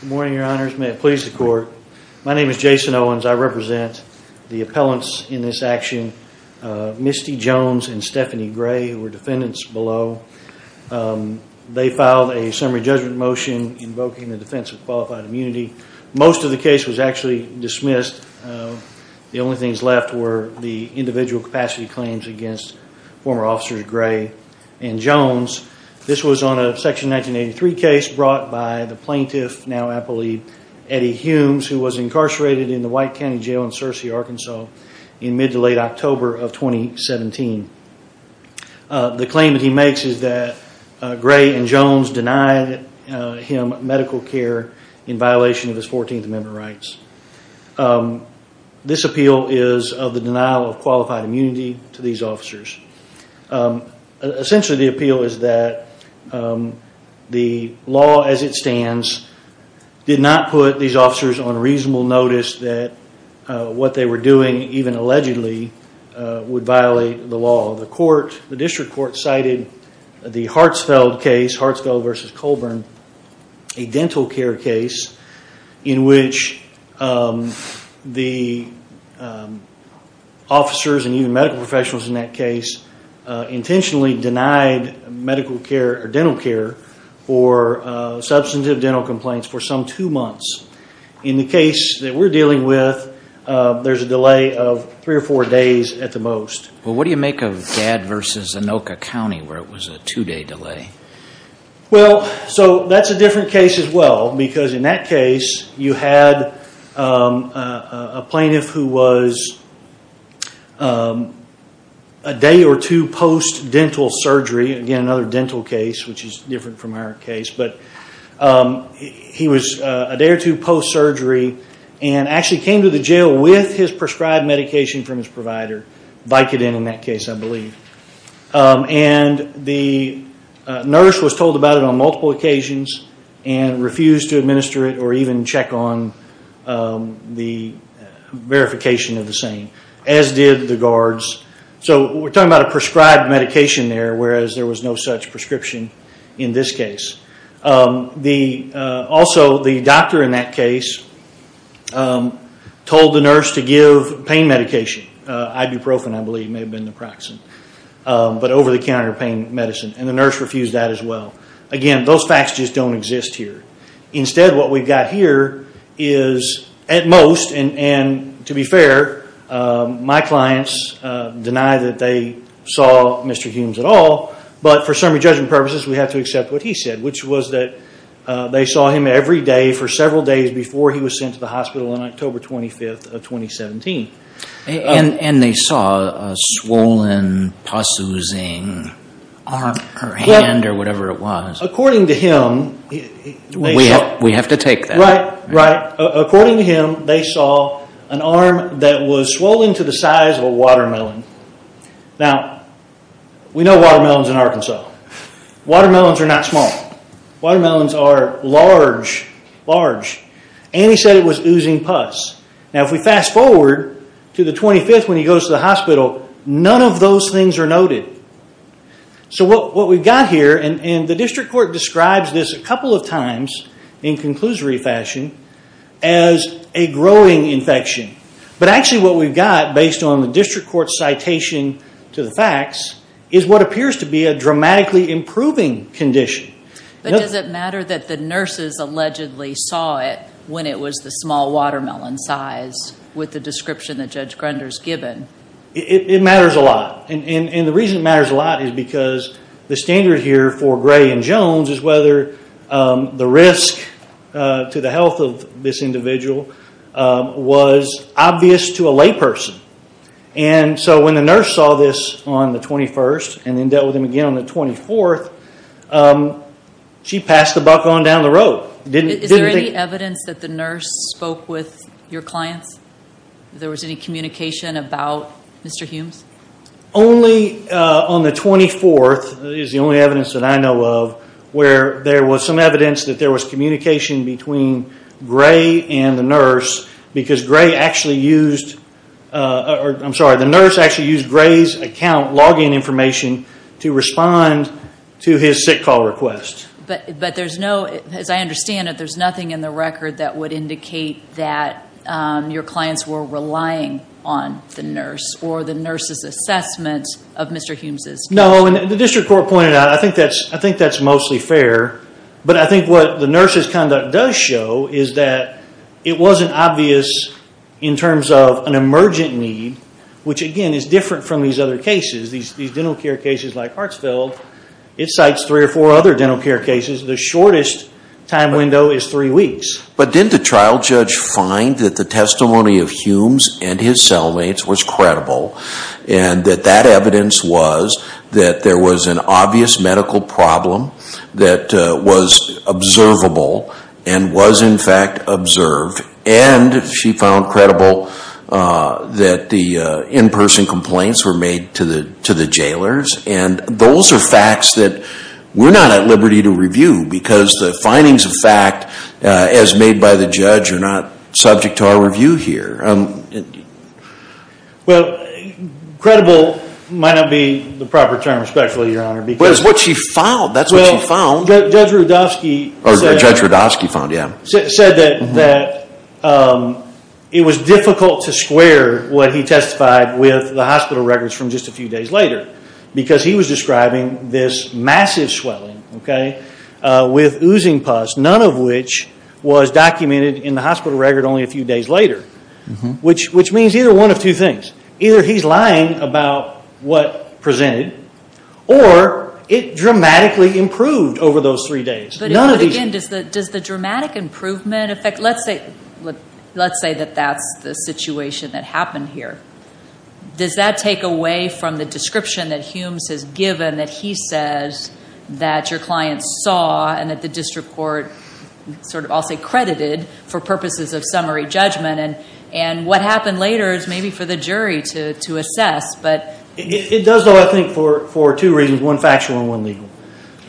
Good morning, Your Honors. May it please the Court. My name is Jason Owens. I represent the appellants in this action. Misty Jones and Stephanie Gray were defendants below. They filed a summary judgment motion invoking the defense of qualified immunity. Most of the case was actually dismissed. The only things left were the individual capacity claims against former officers Gray and Jones. This was on a Section 1983 case brought by the plaintiff, now appellee, Eddie Humes, who was incarcerated in the White County Jail in Searcy, Arkansas in mid to late October of 2017. The claim that he makes is that Gray and Jones denied him medical care in violation of his 14th Amendment rights. This appeal is of the denial of qualified immunity to these officers. Essentially, the appeal is that the law as it stands did not put these officers on reasonable notice that what they were doing, even allegedly, would violate the law. The District Court cited the Hartsfeld case, Hartsfeld v. Colburn, a dental care case, in which the officers and even medical professionals in that case intentionally denied medical care or dental care for substantive dental complaints for some two months. In the case that we're dealing with, there's a delay of three or four days at the most. Well, what do you make of Dad v. Anoka County where it was a two-day delay? Well, that's a different case as well, because in that case, you had a plaintiff who was a day or two post-dental surgery. Again, another dental case, which is different from our case. He was a day or two post-surgery and actually came to the jail with his prescribed medication from his provider, Vicodin in that case, I believe. And the nurse was told about it on multiple occasions and refused to administer it or even check on the verification of the same, as did the guards. So we're talking about a prescribed medication there, whereas there was no such prescription in this case. Also, the doctor in that case told the nurse to give pain medication, ibuprofen, I believe. It may have been naproxen, but over-the-counter pain medicine, and the nurse refused that as well. Again, those facts just don't exist here. Instead, what we've got here is, at most, and to be fair, my clients deny that they saw Mr. Humes at all, but for summary judgment purposes, we have to accept what he said, which was that they saw him every day for several days before he was sent to the hospital on October 25th of 2017. And they saw a swollen, possessing arm or hand or whatever it was? According to him, they saw... We have to take that. Right, right. According to him, they saw an arm that was swollen to the size of a watermelon. Now, we know watermelons in Arkansas. Watermelons are not small. Watermelons are large, large. And he said it was oozing pus. Now, if we fast forward to the 25th when he goes to the hospital, none of those things are noted. So what we've got here, and the district court describes this a couple of times in conclusory fashion, as a growing infection. But actually what we've got, based on the district court's citation to the facts, is what appears to be a dramatically improving condition. But does it matter that the nurses allegedly saw it when it was the small watermelon size, with the description that Judge Grunder's given? It matters a lot. And the reason it matters a lot is because the standard here for Gray and Jones is whether the risk to the health of this individual was obvious to a layperson. And so when the nurse saw this on the 21st and then dealt with him again on the 24th, she passed the buck on down the road. Is there any evidence that the nurse spoke with your clients? There was any communication about Mr. Humes? Only on the 24th is the only evidence that I know of where there was some evidence that there was communication between Gray and the nurse because Gray actually used, I'm sorry, the nurse actually used Gray's account login information to respond to his sick call request. But there's no, as I understand it, there's nothing in the record that would indicate that your clients were relying on the nurse or the nurse's assessment of Mr. Humes' condition. No, and the district court pointed out, I think that's mostly fair. But I think what the nurse's conduct does show is that it wasn't obvious in terms of an emergent need, which again is different from these other cases, these dental care cases like Hartsfield. It cites three or four other dental care cases. The shortest time window is three weeks. But didn't the trial judge find that the testimony of Humes and his cellmates was credible and that that evidence was that there was an obvious medical problem that was observable and was, in fact, observed. And she found credible that the in-person complaints were made to the jailers. And those are facts that we're not at liberty to review because the findings of fact, as made by the judge, are not subject to our review here. Well, credible might not be the proper term, especially, Your Honor, because But it's what she found. That's what she found. Judge Rudofsky said Judge Rudofsky found, yeah. Said that it was difficult to square what he testified with the hospital records from just a few days later because he was describing this massive swelling with oozing pus, none of which was documented in the hospital record only a few days later, which means either one of two things. Either he's lying about what presented, or it dramatically improved over those three days. But again, does the dramatic improvement affect Let's say that that's the situation that happened here. Does that take away from the description that Humes has given, that he says that your client saw and that the district court sort of, I'll say, credited for purposes of summary judgment? And what happened later is maybe for the jury to assess. It does, though, I think, for two reasons, one factual and one legal.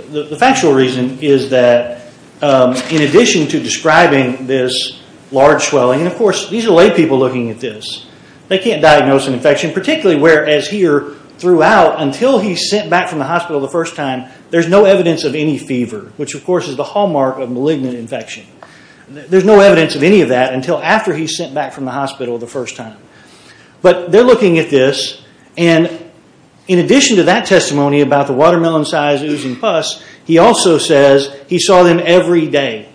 The factual reason is that in addition to describing this large swelling, and, of course, these are lay people looking at this. They can't diagnose an infection, particularly whereas here, throughout, until he's sent back from the hospital the first time, there's no evidence of any fever, which, of course, is the hallmark of malignant infection. There's no evidence of any of that until after he's sent back from the hospital the first time. But they're looking at this, and in addition to that testimony about the watermelon-sized oozing pus, he also says he saw them every day.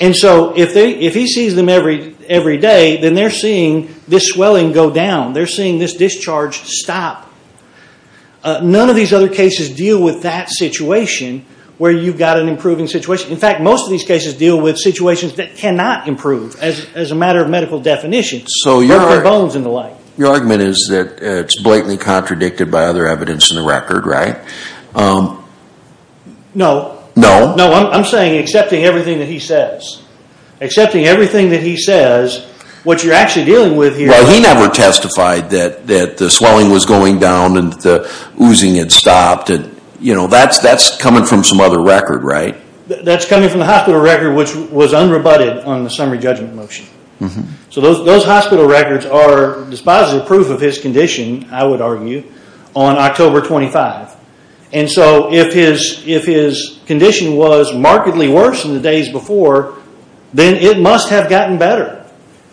And so if he sees them every day, then they're seeing this swelling go down. They're seeing this discharge stop. None of these other cases deal with that situation where you've got an improving situation. In fact, most of these cases deal with situations that cannot improve as a matter of medical definition. So your argument is that it's blatantly contradicted by other evidence in the record, right? No. No? No, I'm saying accepting everything that he says. Accepting everything that he says, what you're actually dealing with here is he did not testify that the swelling was going down and the oozing had stopped. That's coming from some other record, right? That's coming from the hospital record, which was unrebutted on the summary judgment motion. So those hospital records are dispositive proof of his condition, I would argue, on October 25. And so if his condition was markedly worse than the days before, then it must have gotten better.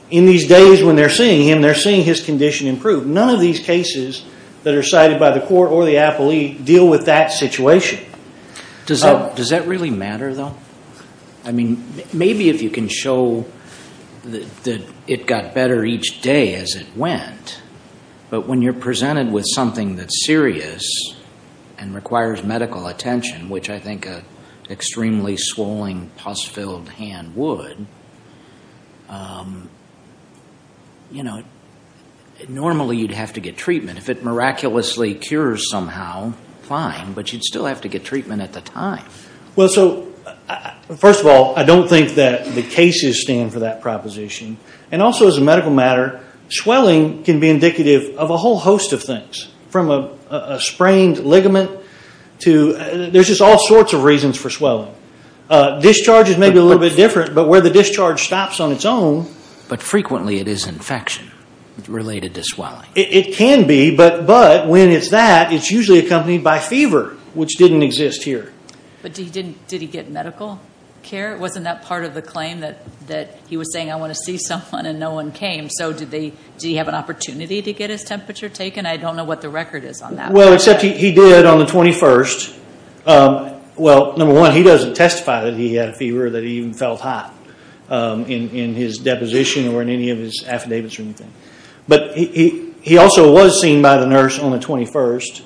In these days when they're seeing him, they're seeing his condition improve. None of these cases that are cited by the court or the appellee deal with that situation. Does that really matter, though? I mean, maybe if you can show that it got better each day as it went, but when you're presented with something that's serious and requires medical attention, which I think an extremely swelling, pus-filled hand would, you know, normally you'd have to get treatment. If it miraculously cures somehow, fine, but you'd still have to get treatment at the time. Well, so first of all, I don't think that the cases stand for that proposition. And also as a medical matter, swelling can be indicative of a whole host of things, from a sprained ligament to there's just all sorts of reasons for swelling. Discharge is maybe a little bit different, but where the discharge stops on its own. But frequently it is infection related to swelling. It can be, but when it's that, it's usually accompanied by fever, which didn't exist here. But did he get medical care? Wasn't that part of the claim that he was saying, I want to see someone and no one came? So did he have an opportunity to get his temperature taken? I don't know what the record is on that. Well, except he did on the 21st. Well, number one, he doesn't testify that he had a fever or that he even felt hot in his deposition or in any of his affidavits or anything. But he also was seen by the nurse on the 21st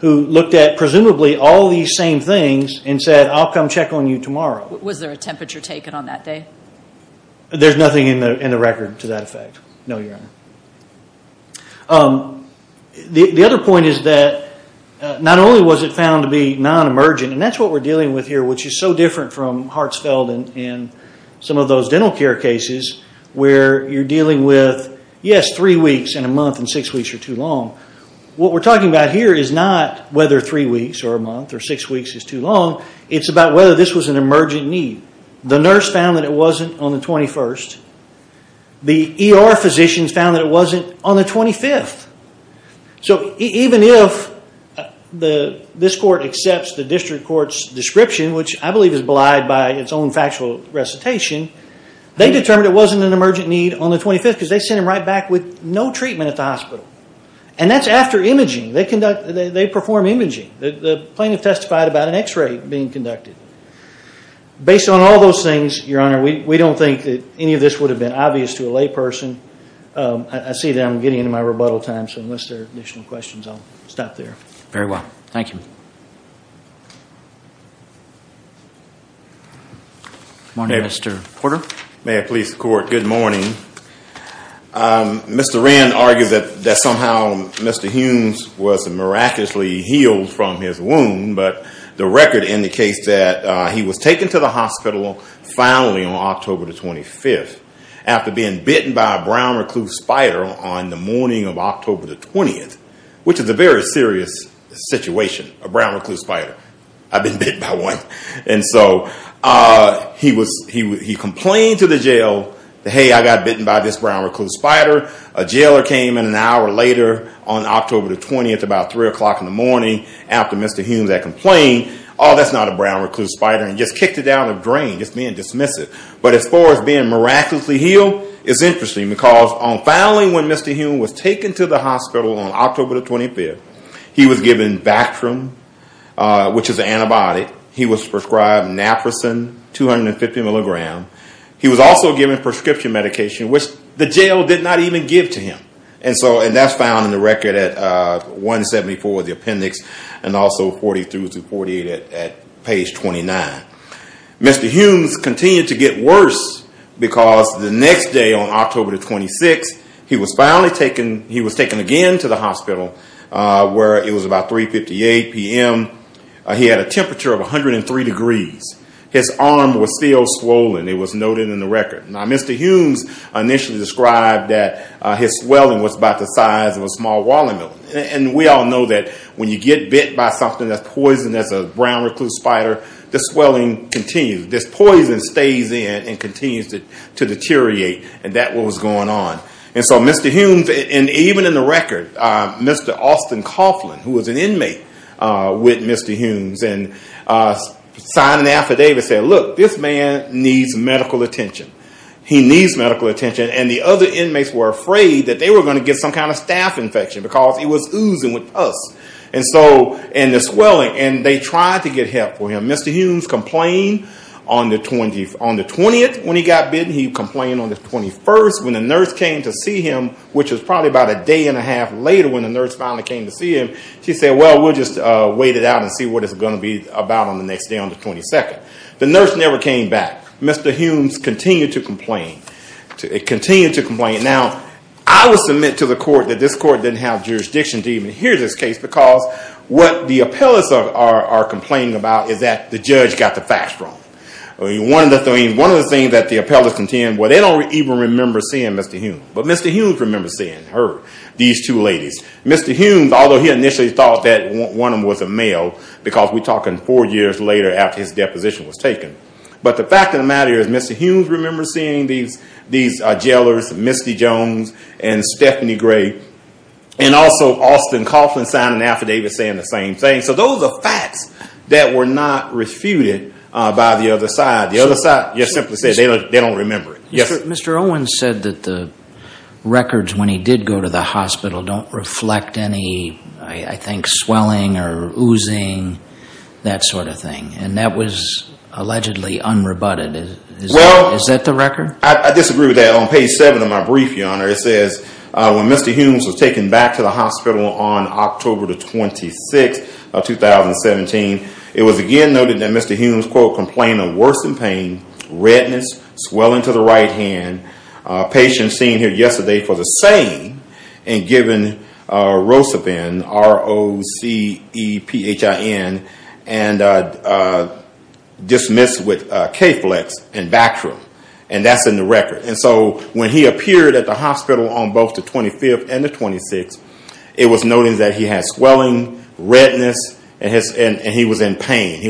who looked at presumably all these same things and said, I'll come check on you tomorrow. Was there a temperature taken on that day? There's nothing in the record to that effect, no, your honor. The other point is that not only was it found to be non-emergent, and that's what we're dealing with here, which is so different from Hartsfeld and some of those dental care cases where you're dealing with, yes, three weeks in a month and six weeks are too long. What we're talking about here is not whether three weeks or a month or six weeks is too long. It's about whether this was an emergent need. The nurse found that it wasn't on the 21st. The ER physicians found that it wasn't on the 25th. So even if this court accepts the district court's description, which I believe is belied by its own factual recitation, they determined it wasn't an emergent need on the 25th because they sent him right back with no treatment at the hospital. And that's after imaging. They perform imaging. The plaintiff testified about an X-ray being conducted. Based on all those things, Your Honor, we don't think that any of this would have been obvious to a layperson. I see that I'm getting into my rebuttal time, so unless there are additional questions, I'll stop there. Very well. Thank you. Good morning, Mr. Porter. May it please the Court, good morning. Mr. Rand argued that somehow Mr. Humes was miraculously healed from his wound, but the record indicates that he was taken to the hospital finally on October 25th after being bitten by a brown recluse spider on the morning of October 20th, which is a very serious situation, a brown recluse spider. I've been bitten by one. And so he complained to the jail, hey, I got bitten by this brown recluse spider. A jailer came in an hour later on October 20th about 3 o'clock in the morning after Mr. Humes had complained, oh, that's not a brown recluse spider, and just kicked it out of the drain, just being dismissive. But as far as being miraculously healed, it's interesting, because finally when Mr. Humes was taken to the hospital on October 25th, he was given Bactrim, which is an antibiotic. He was prescribed Naproxen, 250 milligrams. He was also given prescription medication, which the jail did not even give to him. And so that's found in the record at 174, the appendix, and also 43-48 at page 29. Mr. Humes continued to get worse because the next day on October 26th, he was finally taken, he was taken again to the hospital where it was about 3.58 p.m. He had a temperature of 103 degrees. His arm was still swollen. It was noted in the record. Now Mr. Humes initially described that his swelling was about the size of a small walnut. And we all know that when you get bit by something that's poisoned as a brown recluse spider, the swelling continues. This poison stays in and continues to deteriorate, and that's what was going on. And so Mr. Humes, and even in the record, Mr. Austin Coughlin, who was an inmate with Mr. Humes, signed an affidavit saying, look, this man needs medical attention. He needs medical attention. And the other inmates were afraid that they were going to get some kind of staph infection because he was oozing with pus and the swelling. And they tried to get help for him. Mr. Humes complained on the 20th when he got bitten. He complained on the 21st when the nurse came to see him, which was probably about a day and a half later when the nurse finally came to see him. She said, well, we'll just wait it out and see what it's going to be about on the next day on the 22nd. The nurse never came back. Mr. Humes continued to complain. Now, I will submit to the court that this court didn't have jurisdiction to even hear this case because what the appellants are complaining about is that the judge got the facts wrong. One of the things that the appellants contend, well, they don't even remember seeing Mr. Humes. But Mr. Humes remembers seeing her, these two ladies. Mr. Humes, although he initially thought that one of them was a male because we're talking four years later after his deposition was taken. But the fact of the matter is Mr. Humes remembers seeing these jailers, Misty Jones and Stephanie Gray, and also Austin Coughlin signed an affidavit saying the same thing. So those are facts that were not refuted by the other side. The other side just simply said they don't remember it. Mr. Owens said that the records when he did go to the hospital don't reflect any, I think, swelling or oozing, that sort of thing, and that was allegedly unrebutted. Is that the record? I disagree with that. On page 7 of my brief, Your Honor, it says, when Mr. Humes was taken back to the hospital on October the 26th of 2017, it was again noted that Mr. Humes, quote, complained of worsening pain, redness, swelling to the right hand, a patient seen here yesterday for the same and given rosepin, R-O-C-E-P-H-I-N, and dismissed with K-Flex and Bactrim. And that's in the record. And so when he appeared at the hospital on both the 25th and the 26th, it was noted that he had swelling, redness, and he was in pain.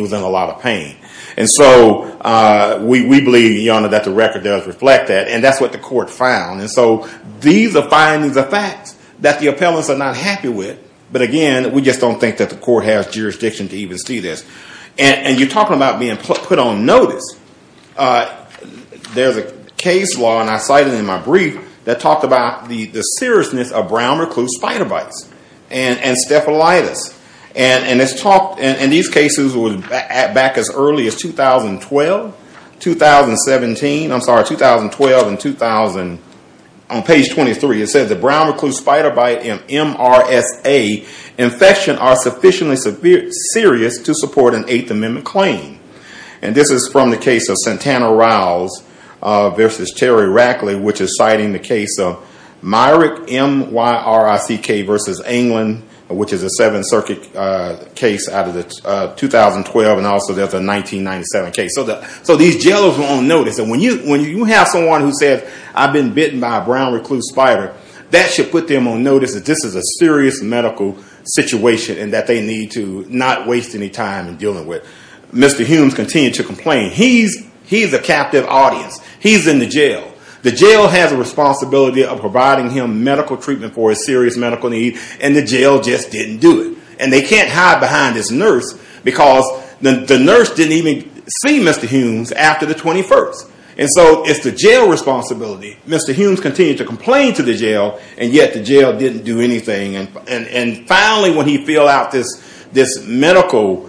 And so we believe, Your Honor, that the record does reflect that. And that's what the court found. And so these are findings of facts that the appellants are not happy with. But again, we just don't think that the court has jurisdiction to even see this. And you're talking about being put on notice. There's a case law, and I cite it in my brief, that talked about the seriousness of brown recluse spider bites and staphelitis. And these cases were back as early as 2012, 2017. I'm sorry, 2012 and 2000. On page 23 it says, The brown recluse spider bite and MRSA infection are sufficiently serious to support an Eighth Amendment claim. And this is from the case of Santana Riles versus Terry Rackley, which is citing the case of Myrick, M-Y-R-I-C-K versus Anglin, which is a Seventh Circuit case out of 2012. And also there's a 1997 case. So these jailers were on notice. And when you have someone who says, I've been bitten by a brown recluse spider, that should put them on notice that this is a serious medical situation and that they need to not waste any time in dealing with it. Mr. Humes continued to complain. He's a captive audience. He's in the jail. The jail has a responsibility of providing him medical treatment for a serious medical need, and the jail just didn't do it. And they can't hide behind this nurse because the nurse didn't even see Mr. Humes after the 21st. And so it's the jail responsibility. Mr. Humes continued to complain to the jail, and yet the jail didn't do anything. And finally when he filled out this medical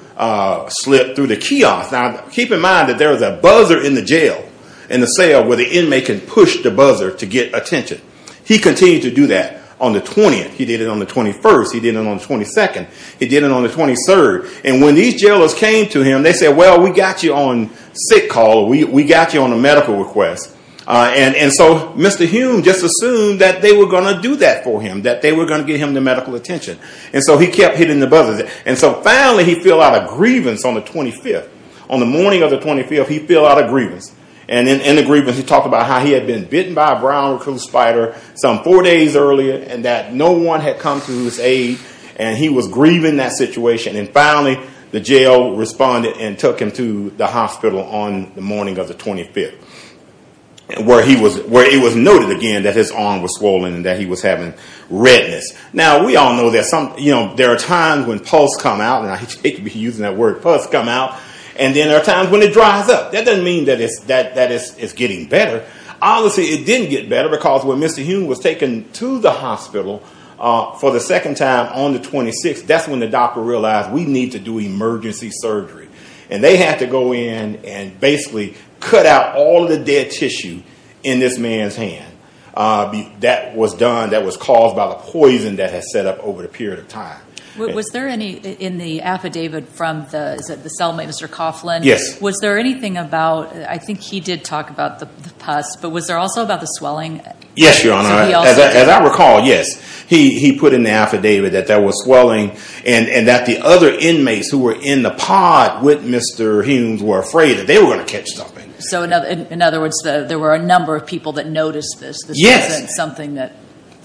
slip through the kiosk, now keep in mind that there was a buzzer in the jail, in the cell where the inmate could push the buzzer to get attention. He continued to do that on the 20th. He did it on the 21st. He did it on the 22nd. He did it on the 23rd. And when these jailers came to him, they said, well, we got you on sick call. We got you on a medical request. And so Mr. Humes just assumed that they were going to do that for him, that they were going to get him the medical attention. And so he kept hitting the buzzer. And so finally he filled out a grievance on the 25th. On the morning of the 25th, he filled out a grievance. And in the grievance he talked about how he had been bitten by a brown recruit spider some four days earlier and that no one had come to his aid, and he was grieving that situation. And finally the jail responded and took him to the hospital on the morning of the 25th, where it was noted again that his arm was swollen and that he was having redness. Now we all know there are times when pulse come out, and I hate to be using that word, pulse come out, and then there are times when it dries up. That doesn't mean that it's getting better. Obviously it didn't get better because when Mr. Humes was taken to the hospital for the second time on the 26th, that's when the doctor realized we need to do emergency surgery. And they had to go in and basically cut out all the dead tissue in this man's hand. That was done, that was caused by the poison that had set up over a period of time. Was there any in the affidavit from the cellmate, Mr. Coughlin? Yes. Was there anything about, I think he did talk about the pulse, but was there also about the swelling? Yes, Your Honor. As I recall, yes. He put in the affidavit that there was swelling and that the other inmates who were in the pod with Mr. Humes were afraid that they were going to catch something. So in other words, there were a number of people that noticed this. Yes. This wasn't something that.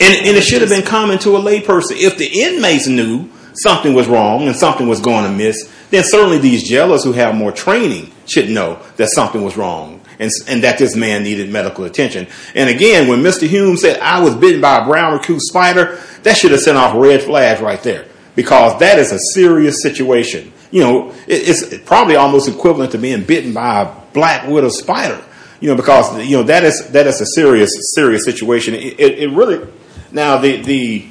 And it should have been common to a lay person. If the inmates knew something was wrong and something was going amiss, then certainly these jailers who have more training should know that something was wrong and that this man needed medical attention. And again, when Mr. Humes said, I was bitten by a brown raccoon spider, that should have sent off red flags right there because that is a serious situation. It's probably almost equivalent to being bitten by a black widow spider because that is a serious, serious situation. Now, the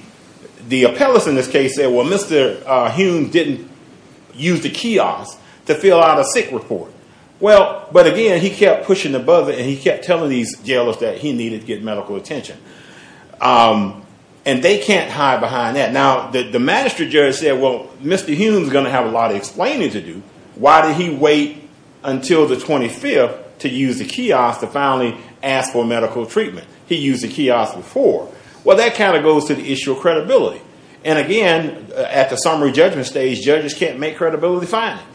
appellate in this case said, well, Mr. Humes didn't use the kiosk to fill out a sick report. Well, but again, he kept pushing above it and he kept telling these jailers that he needed to get medical attention. And they can't hide behind that. Now, the magistrate judge said, well, Mr. Humes is going to have a lot of explaining to do. Why did he wait until the 25th to use the kiosk to finally ask for medical treatment? He used the kiosk before. Well, that kind of goes to the issue of credibility. And again, at the summary judgment stage, judges can't make credibility findings.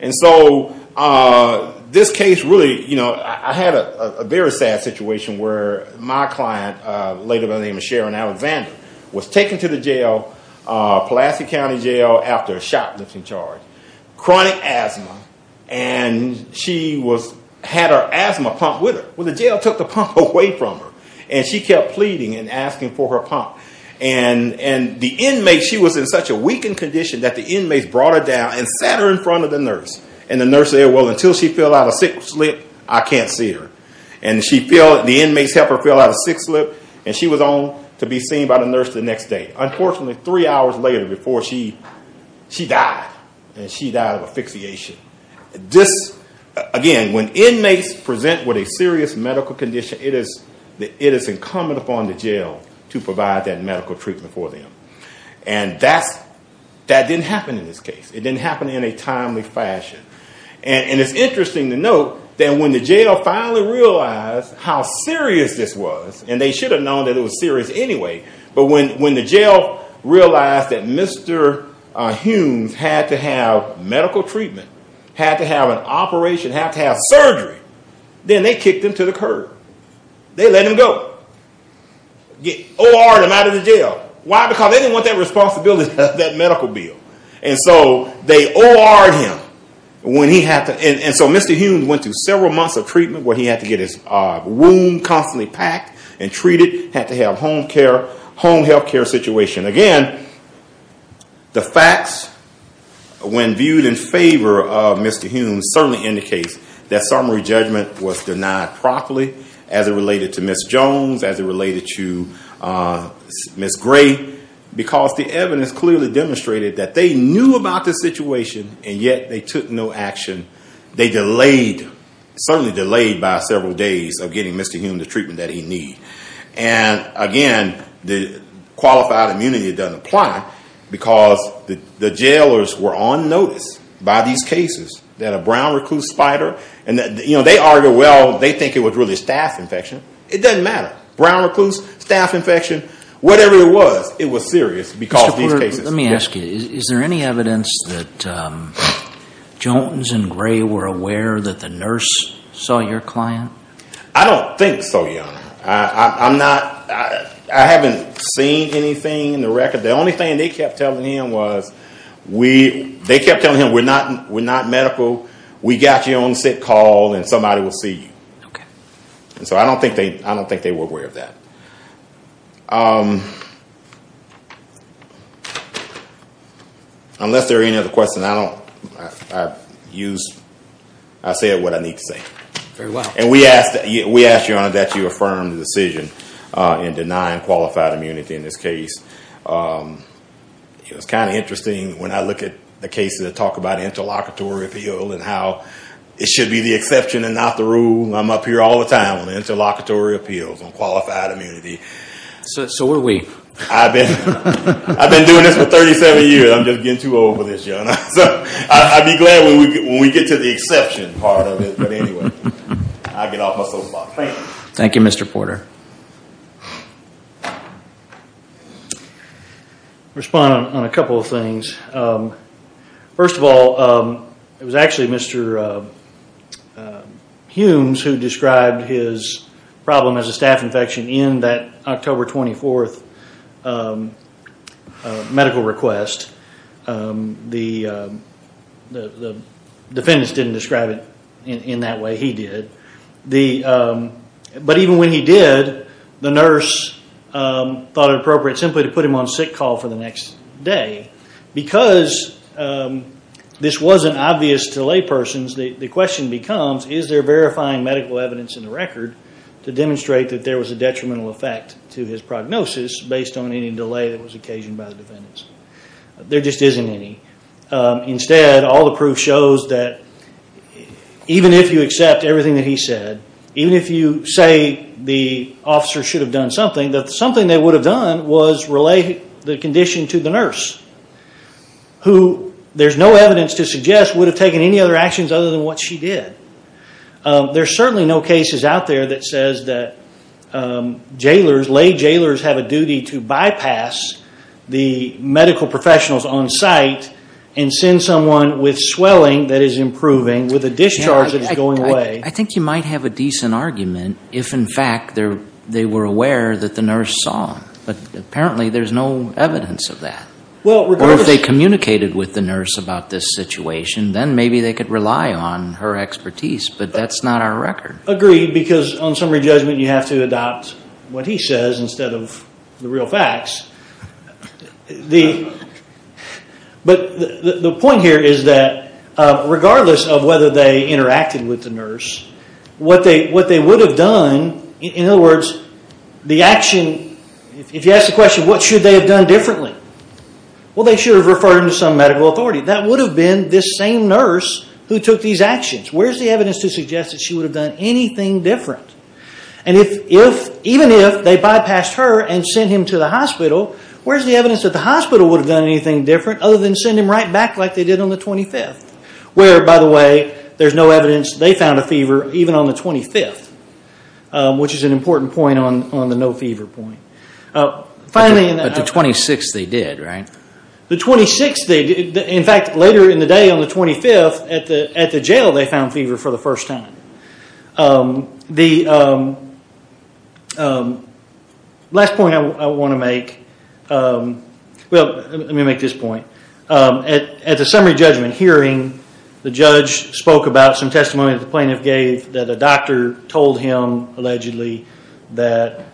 And so this case really, you know, I had a very sad situation where my client, a lady by the name of Sharon Alexander, was taken to the jail, Pulaski County Jail after a shot lifting charge, chronic asthma, and she had her asthma pump with her. Well, the jail took the pump away from her. And she kept pleading and asking for her pump. And the inmate, she was in such a weakened condition that the inmates brought her down and sat her in front of the nurse. And the nurse said, well, until she fill out a sick slip, I can't see her. And the inmates helped her fill out a sick slip, and she was on to be seen by the nurse the next day. Unfortunately, three hours later before she died, and she died of asphyxiation. Again, when inmates present with a serious medical condition, it is incumbent upon the jail to provide that medical treatment for them. And that didn't happen in this case. It didn't happen in a timely fashion. And it's interesting to note that when the jail finally realized how serious this was, and they should have known that it was serious anyway, but when the jail realized that Mr. Humes had to have medical treatment, had to have an operation, had to have surgery, then they kicked him to the curb. They let him go. They OR'd him out of the jail. Why? Because they didn't want that responsibility, that medical bill. And so they OR'd him. And so Mr. Humes went through several months of treatment where he had to get his wound constantly packed and treated, had to have home healthcare situation. Again, the facts, when viewed in favor of Mr. Humes, certainly indicates that summary judgment was denied properly, as it related to Ms. Jones, as it related to Ms. Gray, because the evidence clearly demonstrated that they knew about the situation, and yet they took no action. They delayed, certainly delayed by several days of getting Mr. Humes the treatment that he needed. And again, the qualified immunity doesn't apply, because the jailers were on notice by these cases that a brown recluse spider, and they argue, well, they think it was really a staph infection. It doesn't matter. Brown recluse, staph infection, whatever it was, it was serious because of these cases. Let me ask you, is there any evidence that Jones and Gray were aware that the nurse saw your client? I don't think so, Your Honor. I'm not, I haven't seen anything in the record. The only thing they kept telling him was, they kept telling him, we're not medical, we got you on sick call, and somebody will see you. And so I don't think they were aware of that. Unless there are any other questions, I don't, I've used, I said what I need to say. Very well. And we ask, Your Honor, that you affirm the decision in denying qualified immunity in this case. It was kind of interesting when I look at the cases that talk about interlocutory appeal and how it should be the exception and not the rule. I'm up here all the time on interlocutory appeals on qualified immunity. So were we. I've been doing this for 37 years. I'm just getting too old for this, Your Honor. So I'd be glad when we get to the exception part of it. But anyway, I'll get off my sofa. Thank you, Mr. Porter. Respond on a couple of things. First of all, it was actually Mr. Humes who described his problem as a staph infection in that October 24th medical request. The defendants didn't describe it in that way. He did. But even when he did, the nurse thought it appropriate simply to put him on sick call for the next day because this wasn't obvious to laypersons. The question becomes, is there verifying medical evidence in the record to demonstrate that there was a detrimental effect to his prognosis based on any delay that was occasioned by the defendants? There just isn't any. Instead, all the proof shows that even if you accept everything that he said, even if you say the officer should have done something, that something they would have done was relay the condition to the nurse, who there's no evidence to suggest would have taken any other actions other than what she did. There's certainly no cases out there that says that jailers, lay jailers, have a duty to bypass the medical professionals on site and send someone with swelling that is improving with a discharge that is going away. I think you might have a decent argument if, in fact, they were aware that the nurse saw him. But apparently there's no evidence of that. Or if they communicated with the nurse about this situation, then maybe they could rely on her expertise, but that's not our record. Agreed, because on summary judgment you have to adopt what he says instead of the real facts. But the point here is that regardless of whether they interacted with the nurse, what they would have done, in other words, the action, if you ask the question, what should they have done differently? Well, they should have referred him to some medical authority. That would have been this same nurse who took these actions. Where's the evidence to suggest that she would have done anything different? And even if they bypassed her and sent him to the hospital, where's the evidence that the hospital would have done anything different other than send him right back like they did on the 25th? Where, by the way, there's no evidence they found a fever even on the 25th, which is an important point on the no fever point. But the 26th they did, right? The 26th they did. In fact, later in the day on the 25th at the jail they found fever for the first time. The last point I want to make, well, let me make this point. At the summary judgment hearing, the judge spoke about some testimony that the plaintiff gave that a doctor told him allegedly that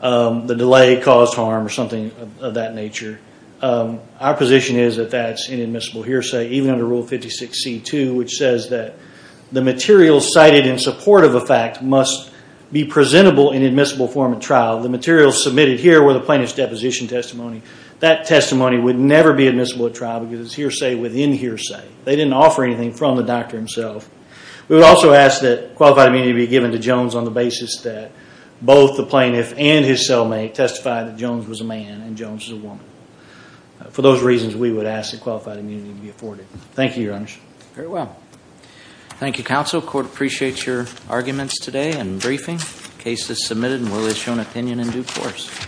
the delay caused harm or something of that nature. Our position is that that's an admissible hearsay, even under Rule 56C2, which says that the materials cited in support of a fact must be presentable in admissible form at trial. The materials submitted here were the plaintiff's deposition testimony. That testimony would never be admissible at trial because it's hearsay within hearsay. They didn't offer anything from the doctor himself. We would also ask that qualified immunity be given to Jones on the basis that both the plaintiff and his cellmate testified that Jones was a man and Jones was a woman. For those reasons, we would ask that qualified immunity be afforded. Thank you, Your Honor. Very well. Thank you, counsel. Court appreciates your arguments today and briefing. Case is submitted and will be shown opinion in due course.